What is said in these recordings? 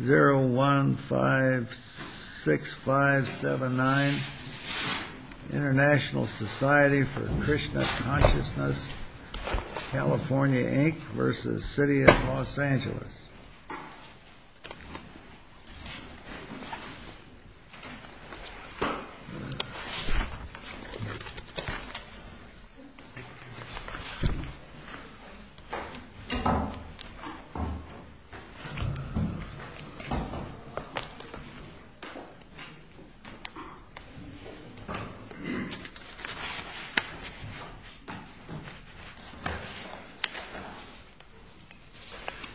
0156579 International Society for Krishna Consciousness, California Inc. v. City of L.A. 0156579 International Society for Krishna Consciousness, California Inc.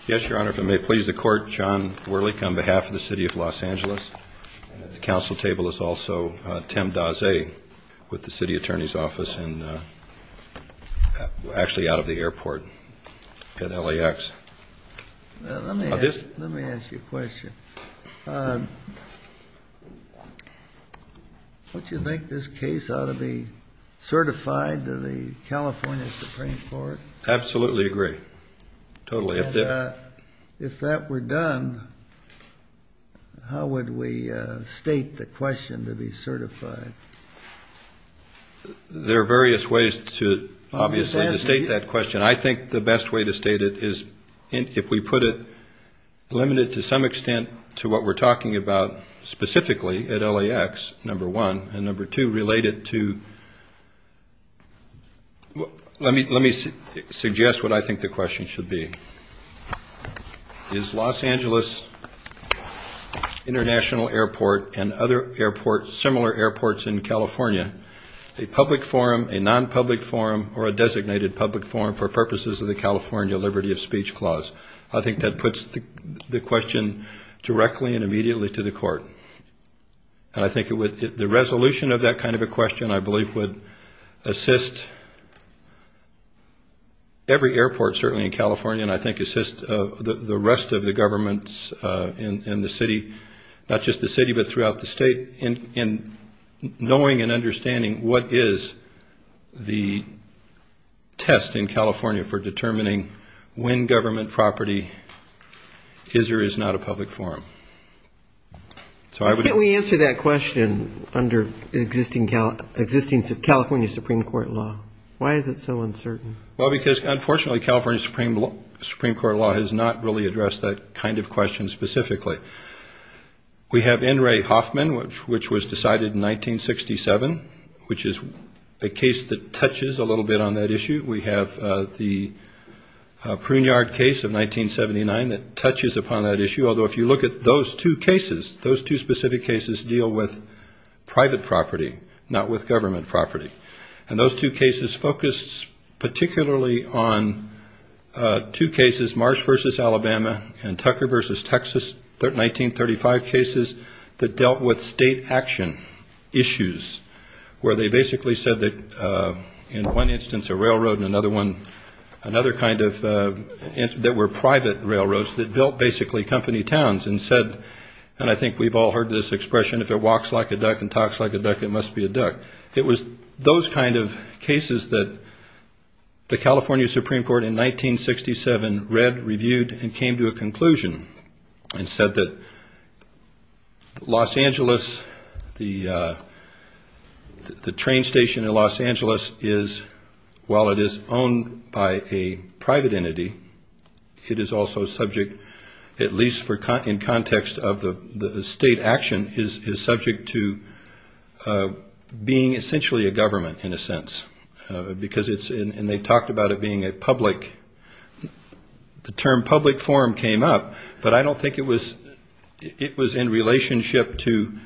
Yes, Your Honor, if it may please the Court, John Werlich on behalf of the City of Los Angeles. At the council table is also Tim Daze with the City Attorney's Office and actually out of the airport at LAX. Let me ask you a question. Don't you think this case ought to be certified to the California Supreme Court? Absolutely agree. Totally. And if that were done, how would we state the question to be certified? There are various ways to obviously state that question. I think the best way to state it is if we put it limited to some extent to what we're talking about specifically at LAX, number one, and number two, related to let me suggest what I think the question should be. Is Los Angeles International Airport and other similar airports in California a public forum, a non-public forum, or a designated public forum for purposes of the California Liberty of Speech Clause? I think that puts the question directly and immediately to the Court. And I think the resolution of that kind of a question I believe would assist every airport certainly in California and I think assist the rest of the governments in the city, not just the city but throughout the state in knowing and understanding what is the test in California for determining when government property is or is not a public forum. Why can't we answer that question under existing California Supreme Court law? Why is it so uncertain? Well, because unfortunately California Supreme Court law has not really addressed that kind of question specifically. We have N. Ray Hoffman, which was decided in 1967, which is a case that touches a little bit on that issue. We have the Pruniard case of 1979 that touches upon that issue, although if you look at those two cases, those two specific cases deal with private property, not with government property. And those two cases focus particularly on two cases, Marsh v. Alabama and Tucker v. Texas, 1935 cases that dealt with state action issues where they basically said that in one instance a railroad and another one, another kind of that were private railroads that built basically company towns and said, and I think we've all heard this expression, if it walks like a duck and talks like a duck, it must be a duck. It was those kinds of cases that the California Supreme Court in 1967 read, reviewed, and came to a conclusion and said that Los Angeles, the train station in Los Angeles is, while it is owned by a private entity, it is also subject, at least in context of the state action, is subject to being essentially a government in a sense because it's, and they talked about it being a public, the term public forum came up, but I don't think it was in relationship to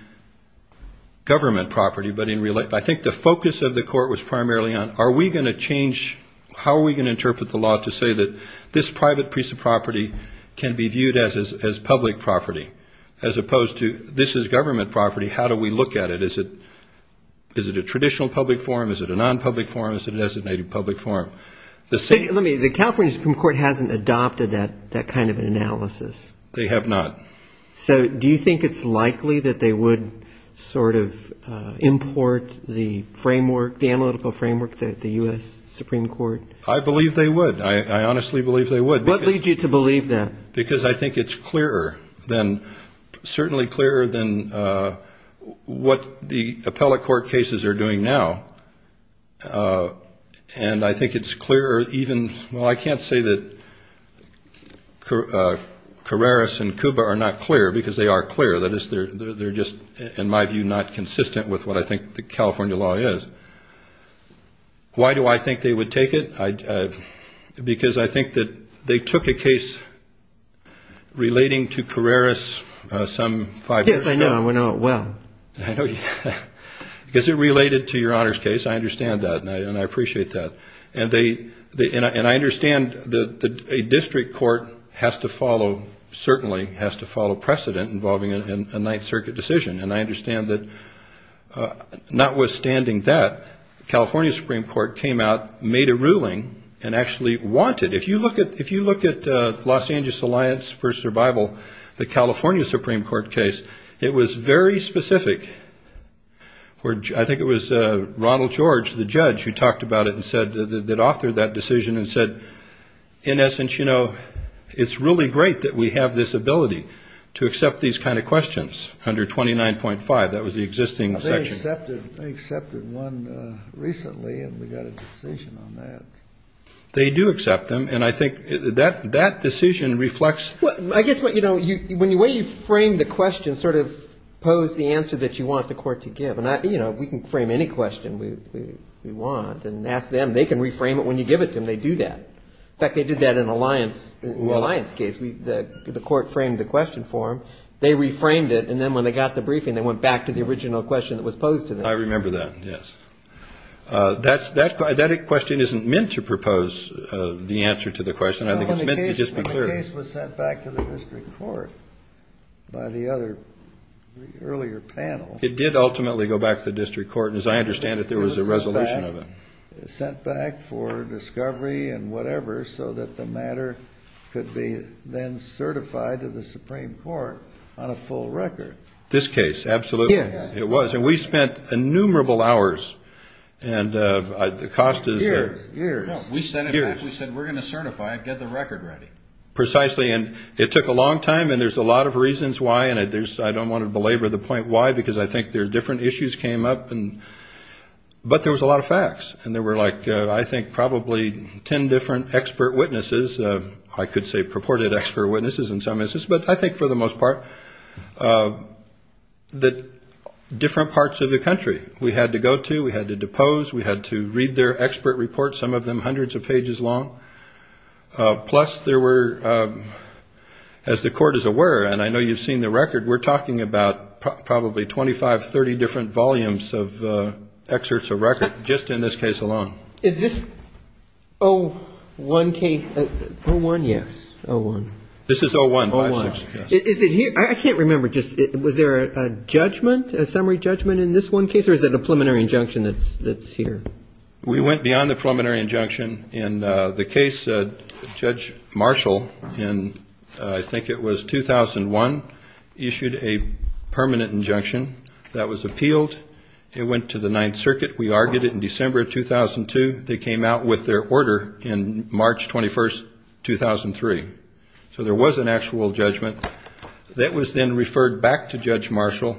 government property, but I think the focus of the court was primarily on are we going to change, how are we going to interpret the law to say that this private piece of property can be viewed as public property as opposed to this is government property, how do we look at it, is it a traditional public forum, is it a non-public forum, is it a designated public forum? Let me, the California Supreme Court hasn't adopted that kind of an analysis. They have not. So do you think it's likely that they would sort of import the framework, the analytical framework that the U.S. Supreme Court? I believe they would. I honestly believe they would. What leads you to believe that? Because I think it's clearer than, certainly clearer than what the appellate court cases are doing now. And I think it's clearer even, well, I can't say that Carreras and Cuba are not clear because they are clear. That is, they're just, in my view, not consistent with what I think the California law is. But why do I think they would take it? Because I think that they took a case relating to Carreras some five years ago. Yes, I know. I know it well. I know. Because it related to your Honor's case. I understand that and I appreciate that. And I understand that a district court has to follow, certainly has to follow precedent involving a Ninth Circuit decision. And I understand that, notwithstanding that, the California Supreme Court came out, made a ruling, and actually wanted, if you look at the Los Angeles Alliance for Survival, the California Supreme Court case, it was very specific. I think it was Ronald George, the judge, who talked about it and said, that authored that decision and said, in essence, you know, it's really great that we have this ability to the existing section. They accepted one recently and we got a decision on that. They do accept them. And I think that that decision reflects. I guess, you know, when you frame the question, sort of pose the answer that you want the court to give. And, you know, we can frame any question we want and ask them. They can reframe it. When you give it to them, they do that. In fact, they did that in the Alliance case. The court framed the question for them. They reframed it. And then when they got the briefing, they went back to the original question that was posed to them. I remember that. Yes. That question isn't meant to propose the answer to the question. I think it's meant to just be clear. The case was sent back to the district court by the other earlier panel. It did ultimately go back to the district court. And as I understand it, there was a resolution of it. Sent back for discovery and whatever so that the matter could be then certified to the district. This case. Absolutely. Yes. It was. And we spent innumerable hours. Years. Years. Years. We sent it back. We said we're going to certify it. Get the record ready. Precisely. And it took a long time. And there's a lot of reasons why. And I don't want to belabor the point why because I think there are different issues came up. But there was a lot of facts. And there were like, I think, probably ten different expert witnesses. I could say purported expert witnesses in some instances. But I think for the most part that different parts of the country we had to go to. We had to depose. We had to read their expert reports. Some of them hundreds of pages long. Plus there were, as the court is aware, and I know you've seen the record, we're talking about probably 25, 30 different volumes of excerpts of record just in this case alone. Is this 01 case? 01, yes. 01. This is 01. I can't remember. Was there a judgment? A summary judgment in this one case? Or is it a preliminary injunction that's here? We went beyond the preliminary injunction. In the case, Judge Marshall, in I think it was 2001, issued a permanent injunction. That was appealed. It went to the Ninth Circuit. We argued it in December of 2002. I don't know. I don't know. I don't know. I don't know. I don't know. I don't know. I don't know. That was then referred back to Judge Marshall.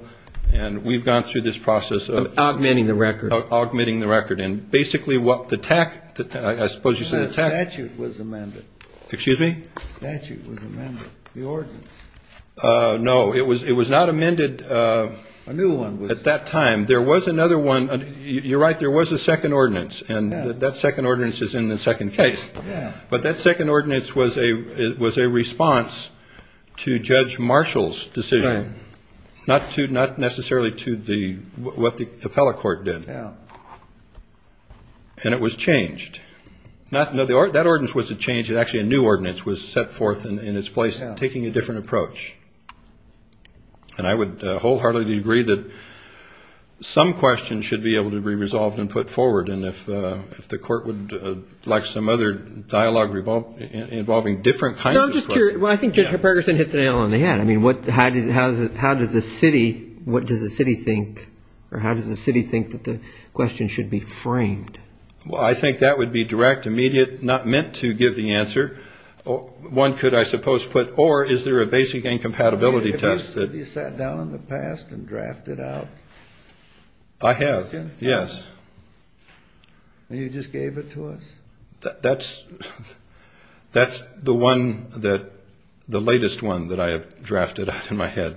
And we've gone through this process of... Of augmenting the record. Of augmenting the record. And basically what the TAC, I suppose you said the TAC... The statute was amended. Excuse me? The statute was amended, the ordinance. No, it was not amended... A new one was. At that time. There was another one. You're right, there was a second ordinance. And that second ordinance is in the second case. Yeah. But that second ordinance was a response to Judge Marshall's decision. Right. Not necessarily to what the appellate court did. Yeah. And it was changed. No, that ordinance wasn't changed. Actually, a new ordinance was set forth in its place, taking a different approach. And I would wholeheartedly agree that some questions should be able to be resolved and put forward. And if the court would like some other dialogue involving different kinds of... No, I'm just curious. Well, I think Judge Perkerson hit the nail on the head. I mean, how does the city, what does the city think, or how does the city think that the question should be framed? Well, I think that would be direct, immediate, not meant to give the answer. One could, I suppose, put, or is there a basic incompatibility test that... Have you sat down in the past and drafted out... I have, yes. And you just gave it to us? That's the one that, the latest one that I have drafted out in my head.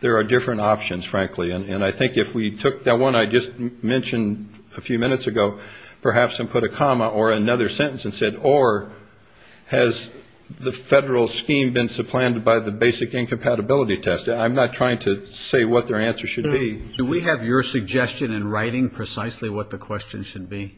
There are different options, frankly. And I think if we took that one I just mentioned a few minutes ago, perhaps and put a comma or another sentence and said, or has the federal scheme been supplanted by the basic incompatibility test? I'm not trying to say what their answer should be. Do we have your suggestion in writing precisely what the question should be?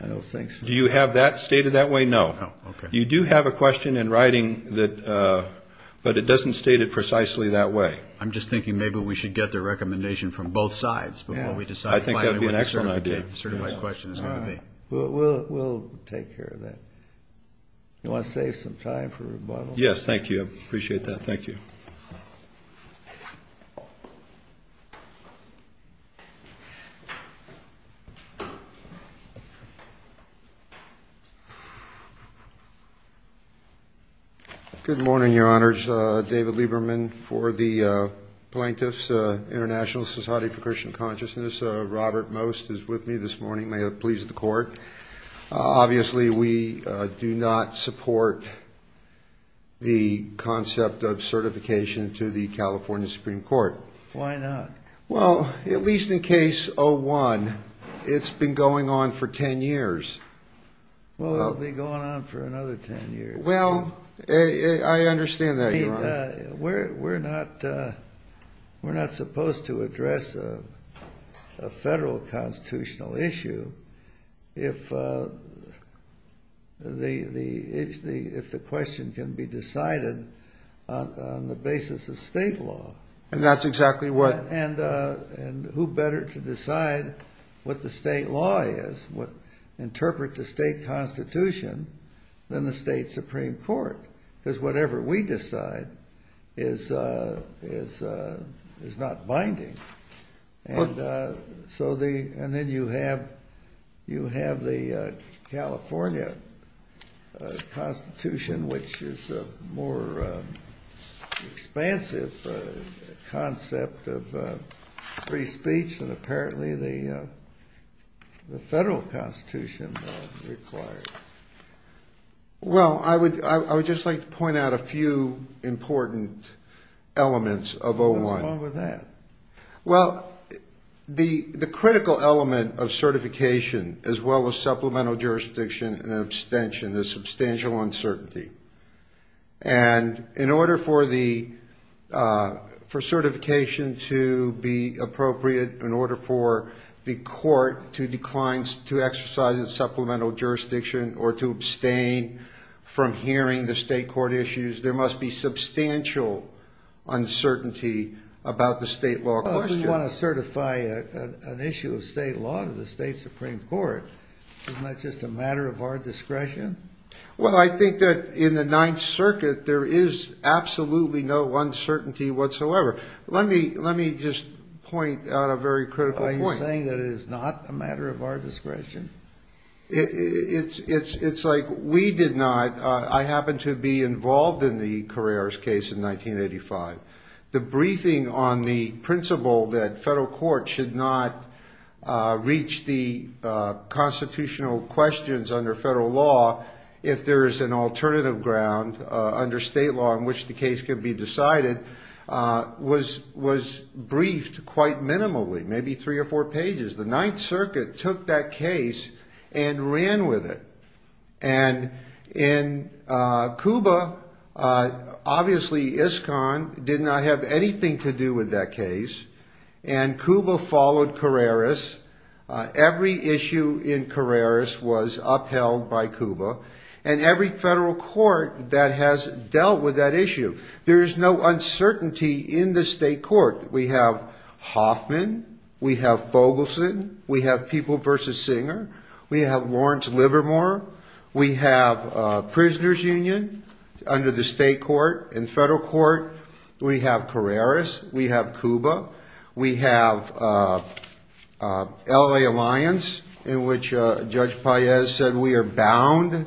I don't think so. Do you have that stated that way? No. Okay. You do have a question in writing, but it doesn't state it precisely that way. I'm just thinking maybe we should get the recommendation from both sides before we decide finally what the certified question is going to be. We'll take care of that. You want to save some time for rebuttal? Yes, thank you. I appreciate that. Thank you. Good morning, Your Honors. David Lieberman for the Plaintiffs International Society for Christian Consciousness. Robert Most is with me this morning. May it please the Court. Obviously, we do not support the concept of certification to the California Supreme Court. Why not? Well, at least in Case 01, it's been going on for 10 years. Well, it'll be going on for another 10 years. Well, I understand that, Your Honor. We're not supposed to address a federal constitutional issue if the question can be decided on the basis of state law. And that's exactly what? And who better to decide what the state law is, what interpret the state constitution, than the state Supreme Court? Because whatever we decide is not binding. And then you have the California Constitution, which is a more expansive concept of free speech than apparently the federal constitution requires. Well, I would just like to point out a few important elements of 01. What's wrong with that? Well, the critical element of certification, as well as supplemental jurisdiction and abstention, is substantial uncertainty. And in order for certification to be appropriate, in order for the court to exercise its supplemental jurisdiction or to abstain from hearing the state court issues, there must be substantial uncertainty about the state law question. Well, if we want to certify an issue of state law to the state Supreme Court, isn't that just a matter of our discretion? Well, I think that in the Ninth Circuit, there is absolutely no uncertainty whatsoever. Let me just point out a very critical point. Are you saying that it is not a matter of our discretion? It's like we did not. I happened to be involved in the Carreras case in 1985. The briefing on the principle that federal courts should not reach the constitutional questions under federal law if there is an alternative ground under state law in which the case can be decided was briefed quite minimally, maybe three or four pages. The Ninth Circuit took that case and ran with it. And in Cuba, obviously ISCON did not have anything to do with that case, and Cuba followed Carreras. Every issue in Carreras was upheld by Cuba, and every federal court that has dealt with that issue. There is no uncertainty in the state court. We have Hoffman. We have Fogelson. We have People v. Singer. We have Lawrence Livermore. We have Prisoners Union under the state court and federal court. We have Carreras. We have Cuba. We have L.A. Alliance, in which Judge Paez said we are bound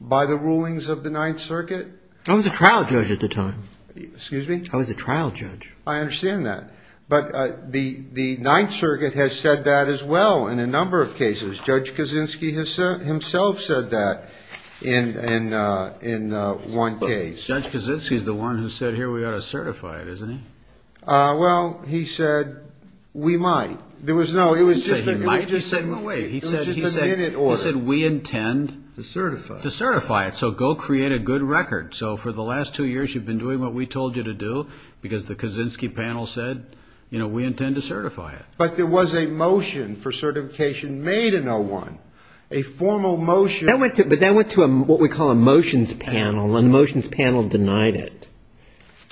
by the rulings of the Ninth Circuit. I was a trial judge at the time. Excuse me? I was a trial judge. I understand that. But the Ninth Circuit has said that as well in a number of cases. Judge Kaczynski himself said that in one case. Judge Kaczynski is the one who said here we ought to certify it, isn't he? Well, he said we might. He didn't say we might. He said we intend to certify it. So go create a good record. So for the last two years you've been doing what we told you to do because the Kaczynski panel said we intend to certify it. But there was a motion for certification made in 01, a formal motion. But that went to what we call a motions panel, and the motions panel denied it.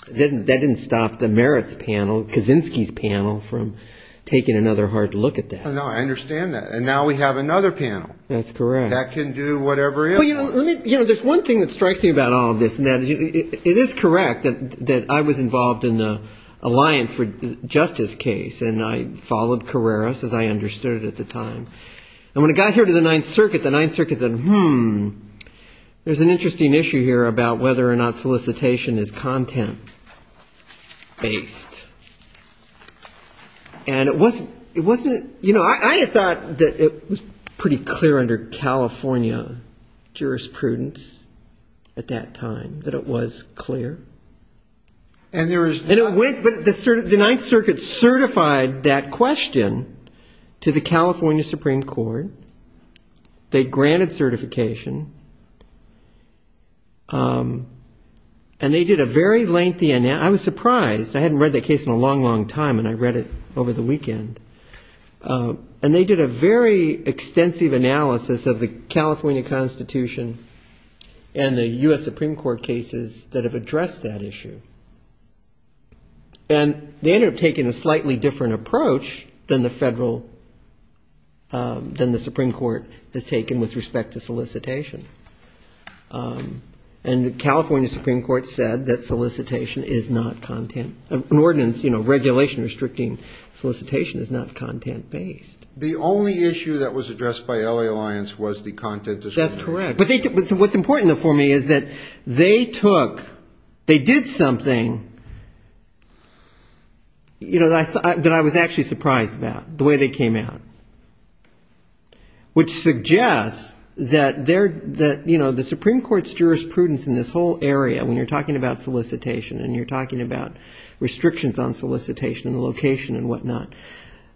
That didn't stop the merits panel, Kaczynski's panel, from taking another hard look at that. No, I understand that. And now we have another panel. That's correct. That can do whatever it wants. There's one thing that strikes me about all of this. It is correct that I was involved in the Alliance for Justice case, and I followed Carreras as I understood it at the time. And when it got here to the Ninth Circuit, the Ninth Circuit said, hmm, there's an interesting issue here about whether or not solicitation is content-based. And it wasn't, you know, I had thought that it was pretty clear under California jurisprudence at that time that it was clear. And it went, but the Ninth Circuit certified that question to the California Supreme Court. They granted certification, and they did a very lengthy analysis. And I was surprised, I hadn't read that case in a long, long time, and I read it over the weekend. And they did a very extensive analysis of the California Constitution and the U.S. Supreme Court cases that have addressed that issue. And they ended up taking a slightly different approach than the federal, than the Supreme Court has taken with respect to solicitation. And the California Supreme Court said that solicitation is not content, an ordinance, you know, regulation restricting solicitation is not content-based. The only issue that was addressed by L.A. Alliance was the content discrimination. That's correct. But what's important for me is that they took, they did something, you know, that I was actually surprised about, the way they came out. Which suggests that, you know, the Supreme Court's jurisprudence in this whole area, when you're talking about solicitation and you're talking about restrictions on solicitation and location and whatnot,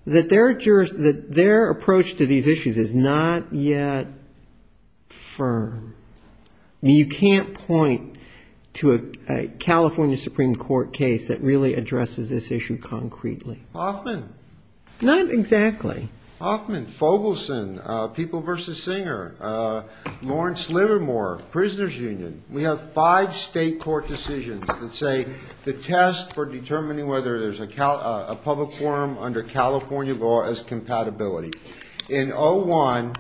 that their approach to these issues is not yet firm. You can't point to a California Supreme Court case that really addresses this issue concretely. Hoffman. Not exactly. Hoffman, Fogelson, People v. Singer, Lawrence Livermore, Prisoners Union. We have five state court decisions that say the test for determining whether there's a public forum under California law is compatibility. In 01,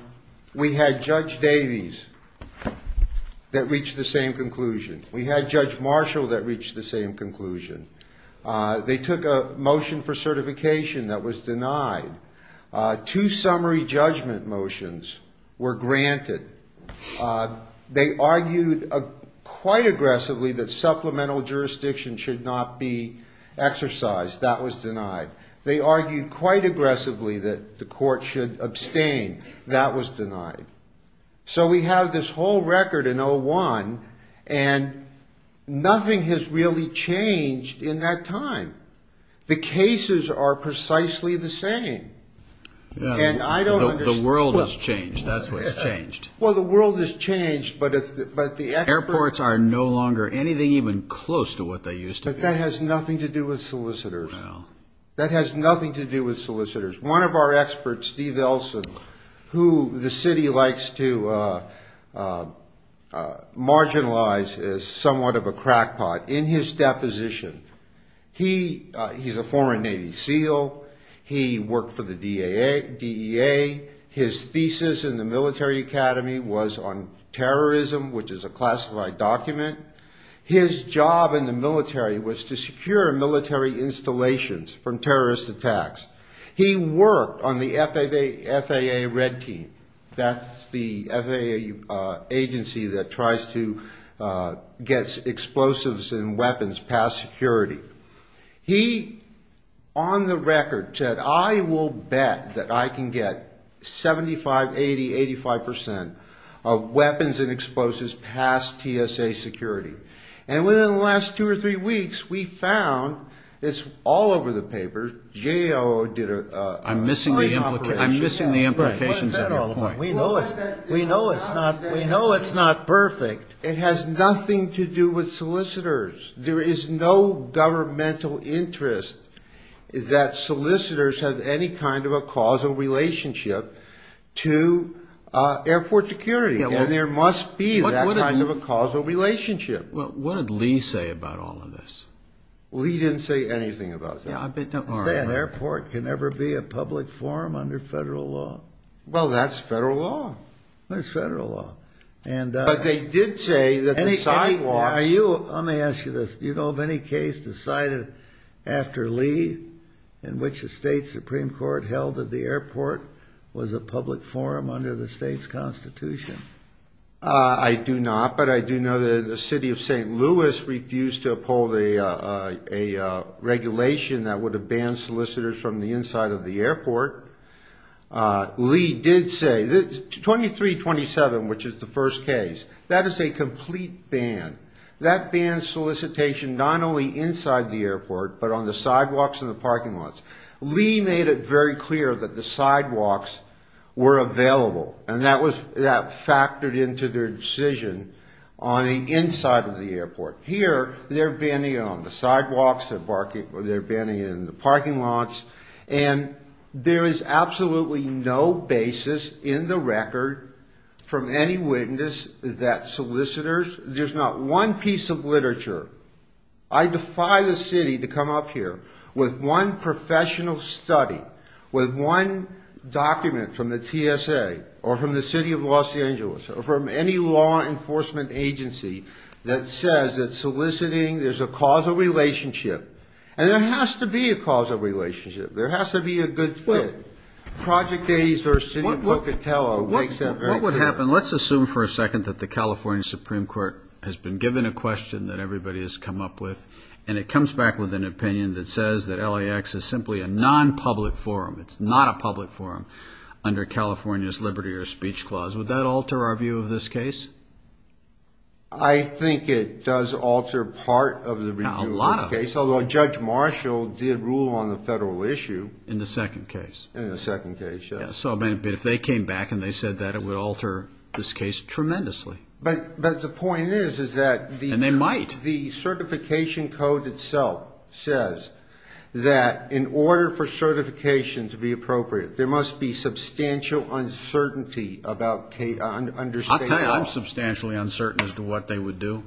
we had Judge Davies that reached the same conclusion. We had Judge Marshall that reached the same conclusion. They took a motion for certification that was denied. Two summary judgment motions were granted. They argued quite aggressively that supplemental jurisdiction should not be exercised. That was denied. They argued quite aggressively that the court should abstain. That was denied. So we have this whole record in 01, and nothing has really changed in that time. The cases are precisely the same. And I don't understand... The world has changed, that's what's changed. Well, the world has changed, but the experts... Who the city likes to marginalize as somewhat of a crackpot in his deposition. He's a former Navy SEAL. He worked for the DEA. His thesis in the military academy was on terrorism, which is a classified document. His job in the military was to secure military installations from terrorist attacks. He worked on the FAA red team. That's the FAA agency that tries to get explosives and weapons past security. He, on the record, said, I will bet that I can get 75, 80, 85 percent of weapons and explosives past TSA security. And within the last two or three weeks, we found, it's all over the papers, JAO did a... I'm missing the implications of your point. We know it's not perfect. It has nothing to do with solicitors. There is no governmental interest that solicitors have any kind of a causal relationship to airport security. And there must be that kind of a causal relationship. What did Lee say about all of this? Lee didn't say anything about that. He said an airport can never be a public forum under federal law. Well, that's federal law. But they did say that the sidewalks... I do not, but I do know that the city of St. Louis refused to uphold a regulation that would have banned solicitors from the inside of the airport. Lee did say, 2327, which is the first case, that is a complete ban. That bans solicitation not only inside the airport, but on the sidewalks and the parking lots. Lee made it very clear that the sidewalks were available. And that factored into their decision on the inside of the airport. Here, they're banning it on the sidewalks, they're banning it in the parking lots, and there is absolutely no basis in the record from any witness that solicitors... There's not one piece of literature. I defy the city to come up here with one professional study, with one document from the TSA, or from the city of Los Angeles, or from any law enforcement agency, that says that soliciting, there's a causal relationship. And there has to be a causal relationship. There has to be a good fit. Project 80 versus City of Pocatello makes that very clear. And let's assume for a second that the California Supreme Court has been given a question that everybody has come up with, and it comes back with an opinion that says that LAX is simply a non-public forum. It's not a public forum under California's liberty or speech clause. Would that alter our view of this case? I think it does alter part of the review of the case, although Judge Marshall did rule on the federal issue. In the second case. In the second case, yes. So if they came back and they said that, it would alter this case tremendously. But the point is, is that... And they might. The certification code itself says that in order for certification to be appropriate, there must be substantial uncertainty about understanding... I'll tell you, I'm substantially uncertain as to what they would do.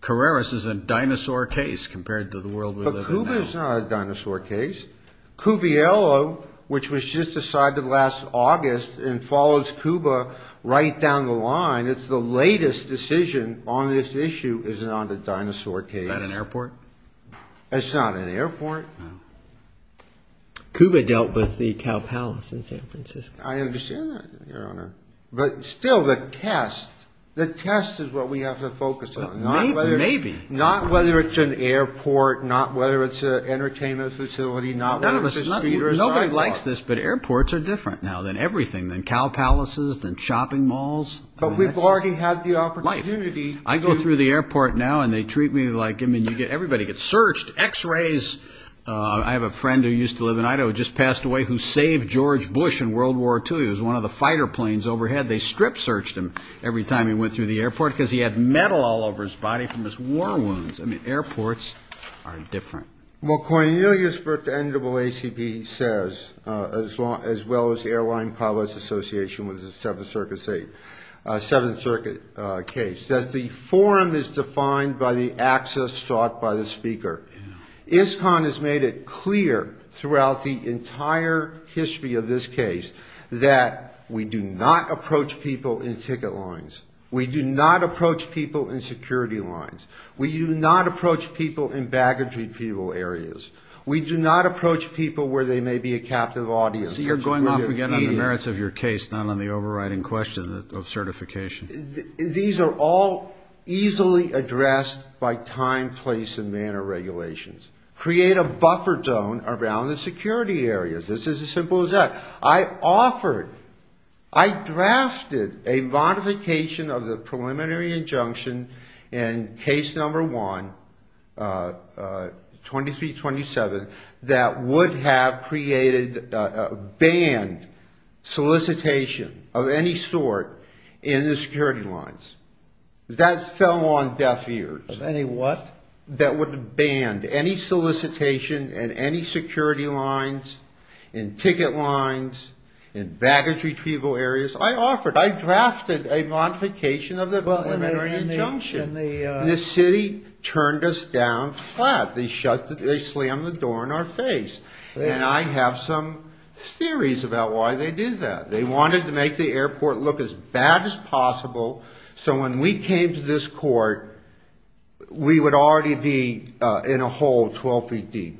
Carreras is a dinosaur case compared to the world we live in now. But Cuba is not a dinosaur case. Cuviello, which was just decided last August, and follows Cuba right down the line, it's the latest decision on this issue is not a dinosaur case. Is that an airport? It's not an airport. Cuba dealt with the Cow Palace in San Francisco. I understand that, Your Honor. But still, the test, the test is what we have to focus on. Maybe. Not whether it's an airport, not whether it's an entertainment facility, not whether it's an entertainment facility, not whether it's an entertainment facility. Nobody likes this, but airports are different now than everything, than cow palaces, than shopping malls. But we've already had the opportunity... Life. I go through the airport now and they treat me like, I mean, everybody gets searched. X-rays. I have a friend who used to live in Idaho, just passed away, who saved George Bush in World War II. He was one of the fighter planes overhead. They strip-searched him every time he went through the airport because he had metal all over his body from his war wounds. I mean, airports are different. Well, Cornelius for the NAACP says, as well as the Airline Pilots Association with the Seventh Circuit case, that the forum is defined by the access sought by the speaker. ISCON has made it clear throughout the entire history of this case that we do not approach people in ticket lines. We do not approach people in security lines. We do not approach people in baggage repeal areas. We do not approach people in airport security lines. I see you're going off again on the merits of your case, not on the overriding question of certification. That would have created, banned solicitation of any sort in the security lines. That fell on deaf ears. Of any what? That would have banned any solicitation in any security lines, in ticket lines, in baggage retrieval areas. I offered, I drafted a modification of the preliminary injunction. The city turned us down flat. They slammed the door in our face. And I have some theories about why they did that. They wanted to make the airport look as bad as possible so when we came to this court, we would already be in a hole 12 feet deep.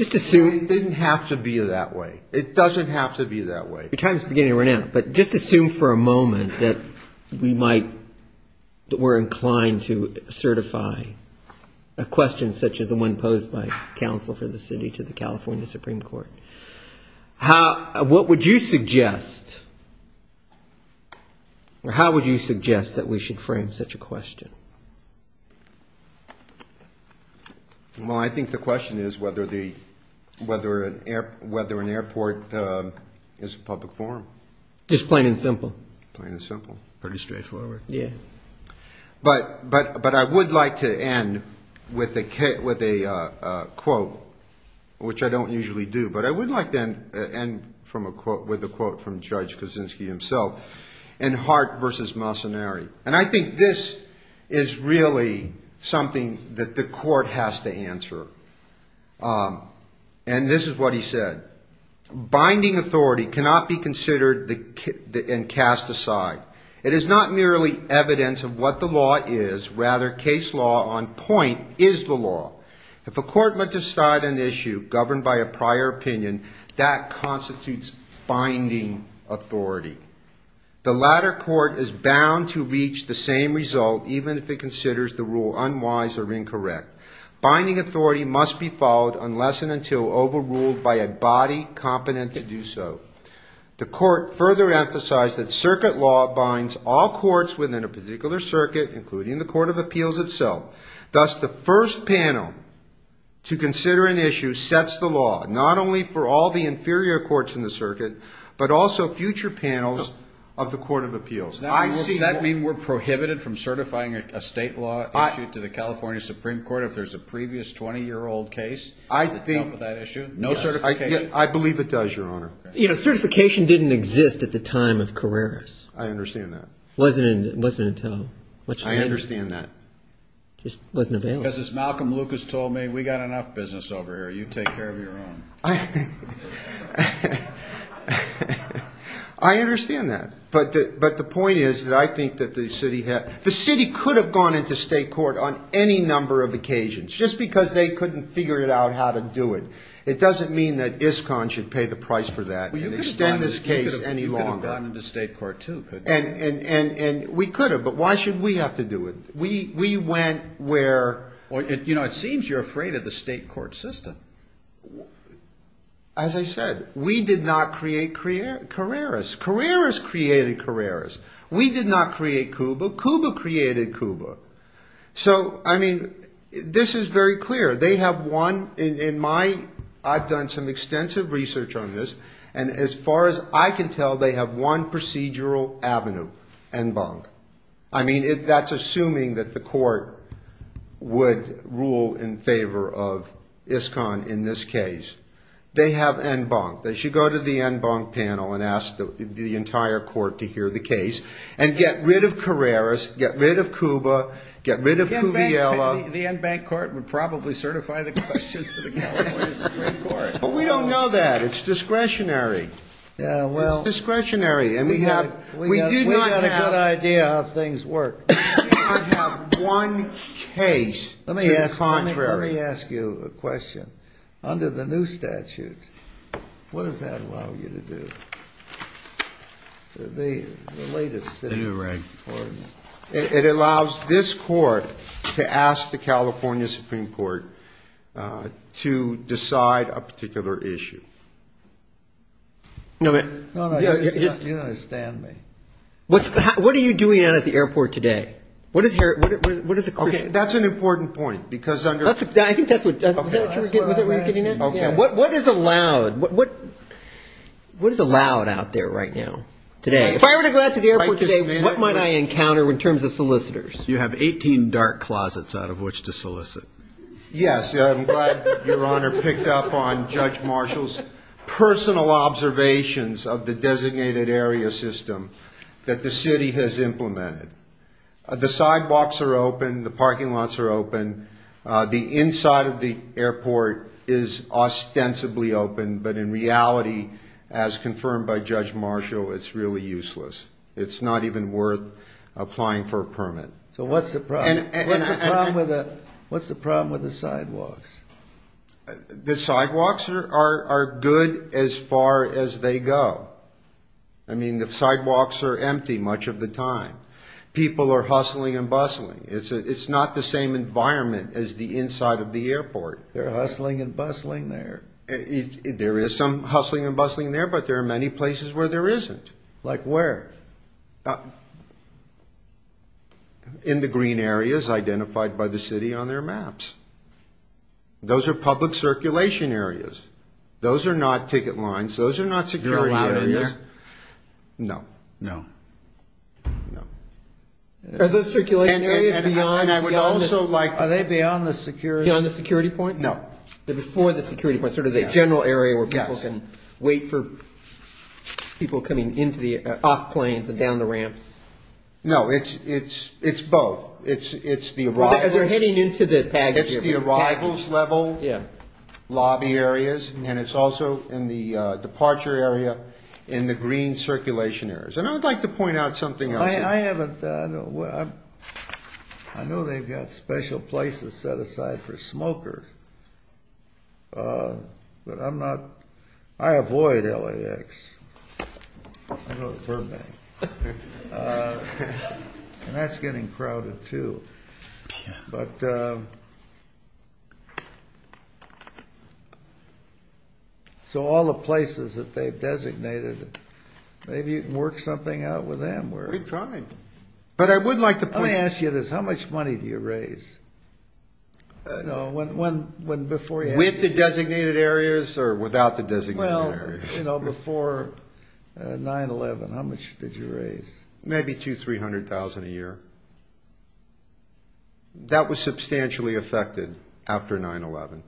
It didn't have to be that way. It doesn't have to be that way. But just assume for a moment that we might, that we're inclined to certify a question such as the one posed by counsel for the city to the California Supreme Court. What would you suggest, or how would you suggest that we should frame such a question? Well, I think the question is whether an airport is a public forum. Just plain and simple. Plain and simple. Pretty straightforward. Yeah. But I would like to end with a quote, which I don't usually do, but I would like to end with a quote from Judge Kuczynski himself in Hart v. Massoneri. And I think this is really something that the court has to answer. And this is what he said. Binding authority cannot be considered and cast aside. It is not merely evidence of what the law is. Rather, case law on point is the law. If a court were to decide an issue governed by a prior opinion, that constitutes binding authority. The latter court is bound to reach the same result even if it considers the rule unwise or incorrect. Binding authority must be followed unless and until overruled by a body of law. The court further emphasized that circuit law binds all courts within a particular circuit, including the court of appeals itself. Thus, the first panel to consider an issue sets the law, not only for all the inferior courts in the circuit, but also future panels of the court of appeals. Does that mean we're prohibited from certifying a state law issue to the California Supreme Court if there's a previous 20-year-old case that dealt with that issue? I believe it does, Your Honor. Certification didn't exist at the time of Carreras. I understand that. It wasn't until much later. I understand that. It just wasn't available. Because as Malcolm Lucas told me, we've got enough business over here. You take care of your own. I understand that. But the point is that I think that the city could have gone into state court on any number of occasions just because they couldn't figure out how to do it. It doesn't mean that ISCON should pay the price for that and extend this case any longer. You could have gone into state court, too, couldn't you? And we could have. But why should we have to do it? We went where... Well, you know, it seems you're afraid of the state court system. As I said, we did not create Carreras. Carreras created Carreras. We did not create Cuba. Cuba created Cuba. So, I mean, this is very clear. They have one... I've done some extensive research on this, and as far as I can tell, they have one procedural avenue, en banc. I mean, that's assuming that the court would rule in favor of ISCON in this case. They have en banc. They should go to the en banc panel and ask the entire court to hear the case and get rid of Carreras, get rid of Cuba, get rid of Cuviela. The en banc court would probably certify the question to the California Supreme Court. But we don't know that. It's discretionary. Yeah, well... It's discretionary, and we do not have... We've got a good idea of how things work. We do not have one case to the contrary. Let me ask you a question. Under the new statute, what does that allow you to do? The latest... It allows this court to ask the California Supreme Court to decide a particular issue. You understand me. What are you doing out at the airport today? Okay, that's an important point, because under... I think that's what... Was that what you were getting at? What is allowed out there right now, today? If I were to go out to the airport today, what might I encounter in terms of solicitors? You have 18 dark closets out of which to solicit. Yes, I'm glad Your Honor picked up on Judge Marshall's personal observations of the designated area system that the city has implemented. The sidewalks are open, the parking lots are open, the inside of the airport is ostensibly open, but in reality, as confirmed by Judge Marshall, it's really useless. It's not even worth applying for a permit. So what's the problem? What's the problem with the sidewalks? The sidewalks are good as far as they go. I mean, the sidewalks are empty much of the time. People are hustling and bustling. It's not the same environment as the inside of the airport. They're hustling and bustling there. There is some hustling and bustling there, but there are many places where there isn't. Like where? In the green areas identified by the city on their maps. Those are public circulation areas. Those are not ticket lines. Those are not security areas. No. No. No. Are those circulation areas beyond the security point? No. Before the security point, sort of the general area where people can wait for people coming off planes and down the ramps? No, it's both. It's the arrivals level lobby areas, and it's also in the departure area in the green circulation areas. And I would like to point out something else. I know they've got special places set aside for smokers, but I avoid LAX. I go to Burbank. And that's getting crowded too. So all the places that they've designated, maybe you can work something out with them. Let me ask you this. How much money do you raise? With the designated areas or without the designated areas? Before 9-11, how much did you raise? Maybe $200,000 to $300,000 a year. That was substantially affected after 9-11.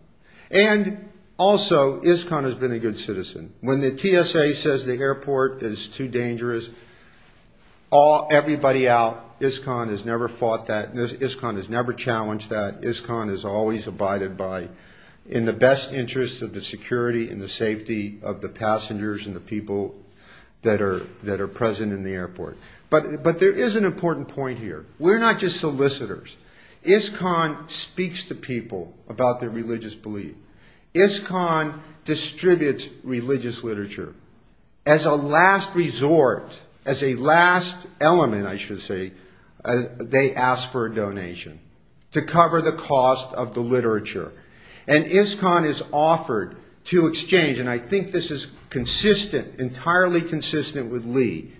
And also, ISCON has been a good citizen. When the TSA says the airport is too dangerous, everybody out. ISCON has never fought that. ISCON has never challenged that. ISCON has always abided by, in the best interest of the security and the safety of the passengers and the people that are present in the airport. But there is an important point here. We're not just solicitors. ISCON speaks to people about their religious belief. ISCON distributes religious literature. As a last resort, as a last element, I should say, they ask for a donation to cover the cost of the literature. And ISCON is offered to exchange, and I think this is consistent, entirely consistent with Lee,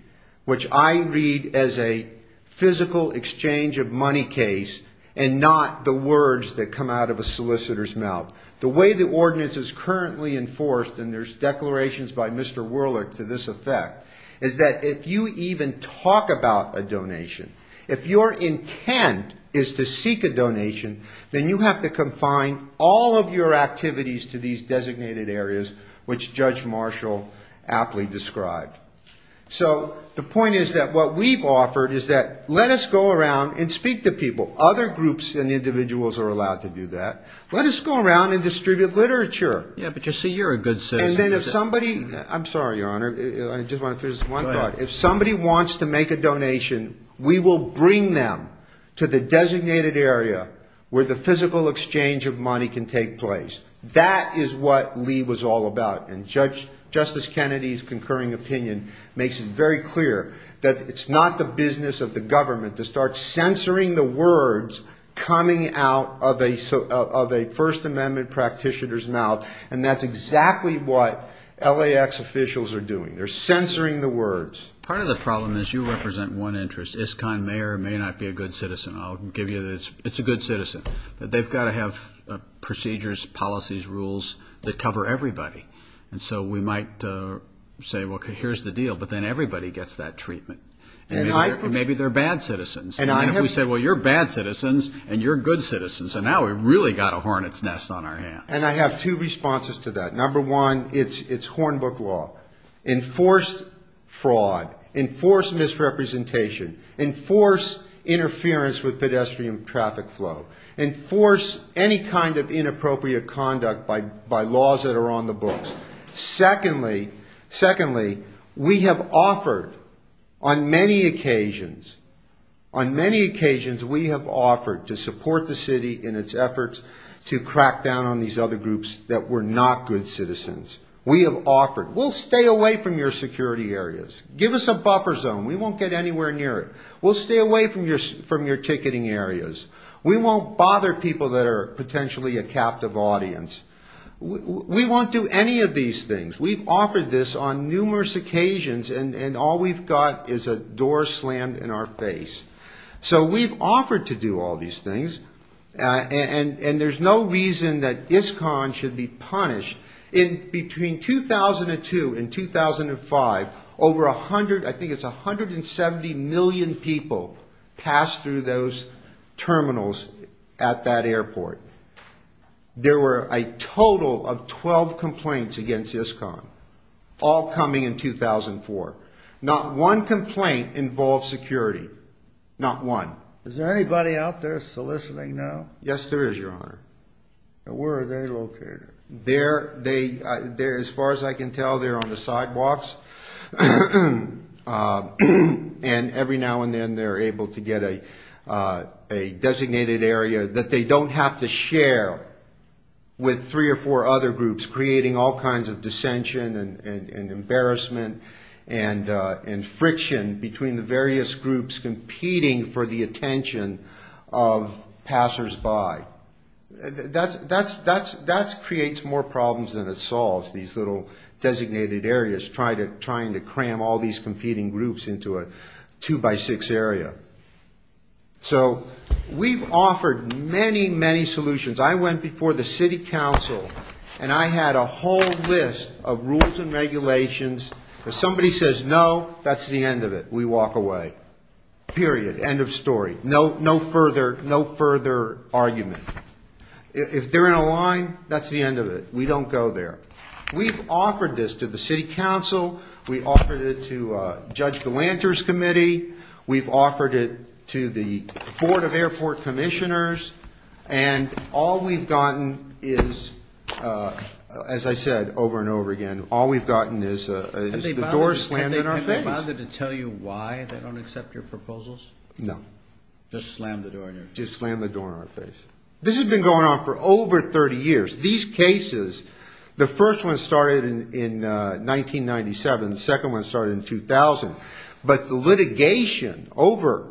which I read as a physical exchange of money case and not the words that come out of a solicitor's mouth. The way the ordinance is currently enforced, and there's declarations by Mr. Werlich to this effect, is that if you even talk about a donation, if your intent is to seek a donation, then you have to confine all of your activities to these designated areas, which Judge Marshall aptly described. So the point is that what we've offered is that let us go around and speak to people. Other groups and individuals are allowed to do that. Let us go around and distribute literature. Yeah, but you see, you're a good citizen. And then if somebody ‑‑ I'm sorry, Your Honor, I just want to finish one thought. Go ahead. If somebody wants to make a donation, we will bring them to the designated area where the physical exchange of money can take place. That is what Lee was all about. And Justice Kennedy's concurring opinion makes it very clear that it's not the business of the government to start censoring the words coming out of a First Amendment practitioner's mouth, and that's exactly what LAX officials are doing. They're censoring the words. Part of the problem is you represent one interest. ISCON may or may not be a good citizen. I'll give you the ‑‑ it's a good citizen. But they've got to have procedures, policies, rules that cover everybody. And so we might say, well, here's the deal. But then everybody gets that treatment. And maybe they're bad citizens. And if we say, well, you're bad citizens and you're good citizens, and now we've really got a hornet's nest on our hands. And I have two responses to that. Number one, it's Hornbook law. Enforce fraud. Enforce misrepresentation. Enforce interference with pedestrian traffic flow. Enforce any kind of inappropriate conduct by laws that are on the books. Secondly, we have offered on many occasions, on many occasions we have offered to support the city in its efforts to crack down on these other groups that were not good citizens. We have offered, we'll stay away from your security areas. Give us a buffer zone. We won't get anywhere near it. We'll stay away from your ticketing areas. We won't bother people that are potentially a captive audience. We won't do any of these things. We've offered this on numerous occasions, and all we've got is a door slammed in our face. So we've offered to do all these things, and there's no reason that ISCON should be punished. Between 2002 and 2005, over 100, I think it's 170 million people, passed through those terminals at that airport. There were a total of 12 complaints against ISCON, all coming in 2004. Not one complaint involved security. Not one. Is there anybody out there soliciting now? Yes, there is, Your Honor. And where are they located? They're, as far as I can tell, they're on the sidewalks, and every now and then they're able to get a designated area that they don't have to share with three or four other groups, creating all kinds of dissension and embarrassment and friction between the various groups competing for the attention of passersby. That creates more problems than it solves, these little designated areas, trying to cram all these competing groups into a two-by-six area. So we've offered many, many solutions. I went before the city council, and I had a whole list of rules and regulations. If somebody says no, that's the end of it. We walk away. Period. End of story. No further argument. If they're in a line, that's the end of it. We don't go there. We've offered this to the city council. We offered it to Judge Galanter's committee. We've offered it to the Board of Airport Commissioners. And all we've gotten is, as I said over and over again, all we've gotten is the door slammed in our face. Have they bothered to tell you why they don't accept your proposals? No. Just slammed the door in our face. Just slammed the door in our face. This has been going on for over 30 years. These cases, the first one started in 1997. The second one started in 2000. But the litigation over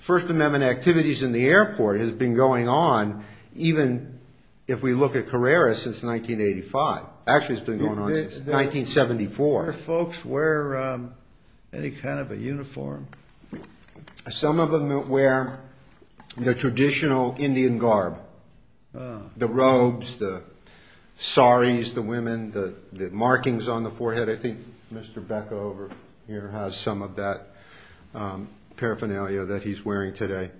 First Amendment activities in the airport has been going on, even if we look at Carreras, since 1985. Actually, it's been going on since 1974. Do folks wear any kind of a uniform? Some of them wear the traditional Indian garb. The robes, the saris, the women, the markings on the forehead. But I think Mr. Becker over here has some of that paraphernalia that he's wearing today.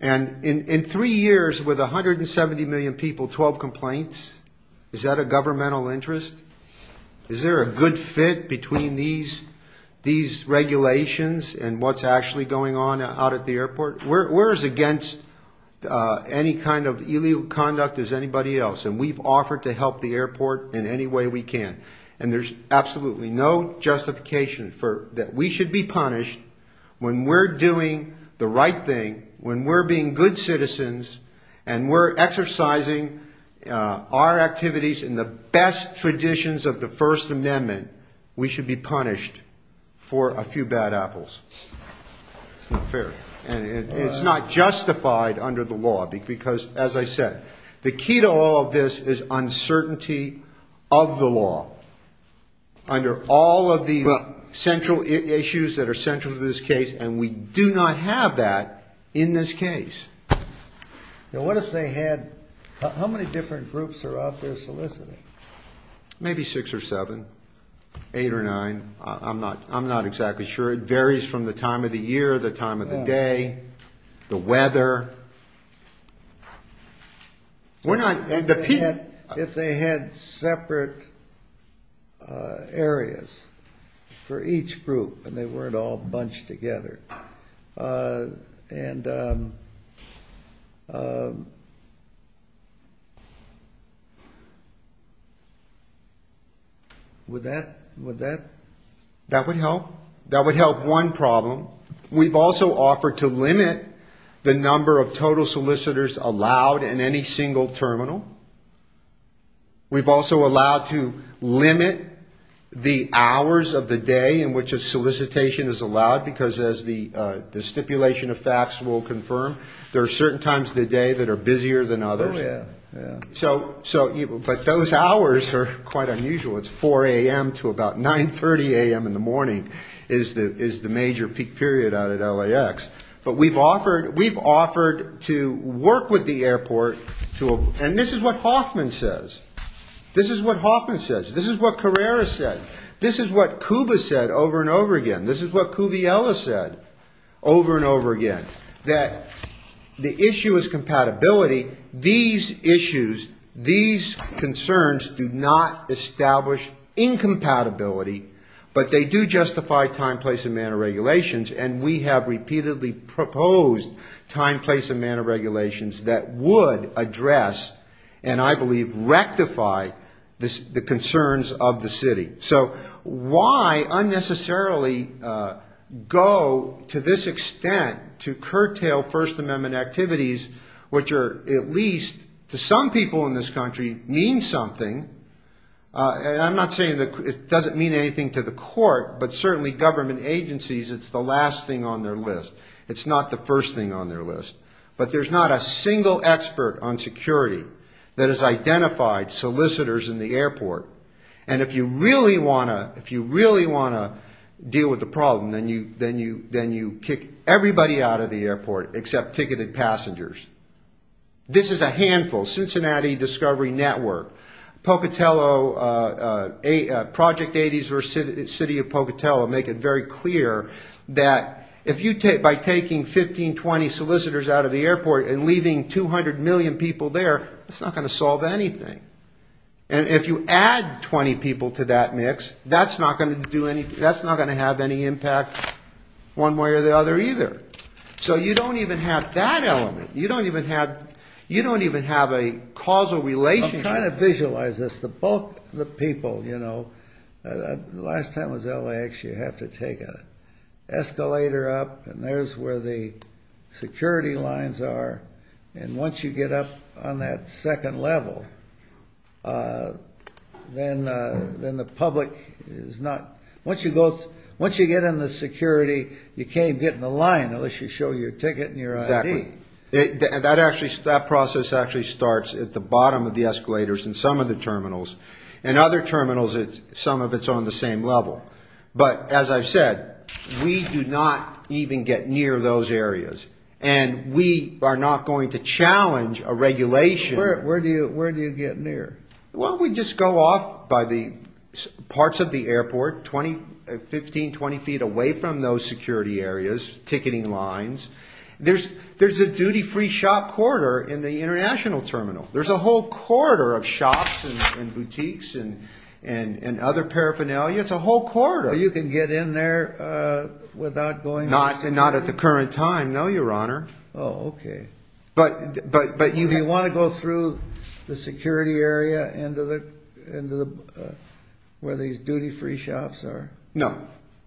And in three years, with 170 million people, 12 complaints? Is that a governmental interest? Is there a good fit between these regulations and what's actually going on out at the airport? We're as against any kind of illegal conduct as anybody else. And we've offered to help the airport in any way we can. And there's absolutely no justification that we should be punished when we're doing the right thing, when we're being good citizens and we're exercising our activities in the best traditions of the First Amendment, we should be punished for a few bad apples. It's not fair. And it's not justified under the law. Because, as I said, the key to all of this is uncertainty of the law under all of the central issues that are central to this case. And we do not have that in this case. Now, what if they had – how many different groups are out there soliciting? Maybe six or seven, eight or nine. I'm not exactly sure. It varies from the time of the year, the time of the day, the weather. If they had separate areas for each group and they weren't all bunched together, would that? That would help. That would help one problem. We've also offered to limit the number of total solicitors allowed in any single terminal. We've also allowed to limit the hours of the day in which a solicitation is allowed, because as the stipulation of facts will confirm, there are certain times of the day that are busier than others. But those hours are quite unusual. It's 4 a.m. to about 9.30 a.m. in the morning is the major peak period out at LAX. But we've offered to work with the airport to – and this is what Hoffman says. This is what Hoffman says. This is what Carrera said. This is what Cuba said over and over again. This is what Cuviella said over and over again, that the issue is compatibility. These issues, these concerns do not establish incompatibility, but they do justify time, place, and manner regulations, and we have repeatedly proposed time, place, and manner regulations that would address and I believe rectify the concerns of the city. So why unnecessarily go to this extent to curtail First Amendment activities, which are at least to some people in this country mean something? And I'm not saying it doesn't mean anything to the court, but certainly government agencies, it's the last thing on their list. It's not the first thing on their list. But there's not a single expert on security that has identified solicitors in the airport. And if you really want to deal with the problem, then you kick everybody out of the airport except ticketed passengers. This is a handful. Cincinnati Discovery Network, Pocatello, Project 80 versus the city of Pocatello make it very clear that by taking 15, 20 solicitors out of the airport and leaving 200 million people there, it's not going to solve anything. And if you add 20 people to that mix, that's not going to have any impact one way or the other either. So you don't even have that element. You don't even have a causal relationship. I'm trying to visualize this. The bulk of the people, you know, last time was LAX. You have to take an escalator up, and there's where the security lines are. And once you get up on that second level, then the public is not – once you get in the security, you can't get in the line unless you show your ticket and your ID. Exactly. That process actually starts at the bottom of the escalators in some of the terminals. In other terminals, some of it's on the same level. But as I've said, we do not even get near those areas. And we are not going to challenge a regulation. Where do you get near? Well, we just go off by the parts of the airport, 15, 20 feet away from those security areas, ticketing lines. There's a duty-free shop corridor in the international terminal. There's a whole corridor of shops and boutiques and other paraphernalia. It's a whole corridor. You can get in there without going – Not at the current time, no, Your Honor. Oh, okay. But you – Do you want to go through the security area where these duty-free shops are? No.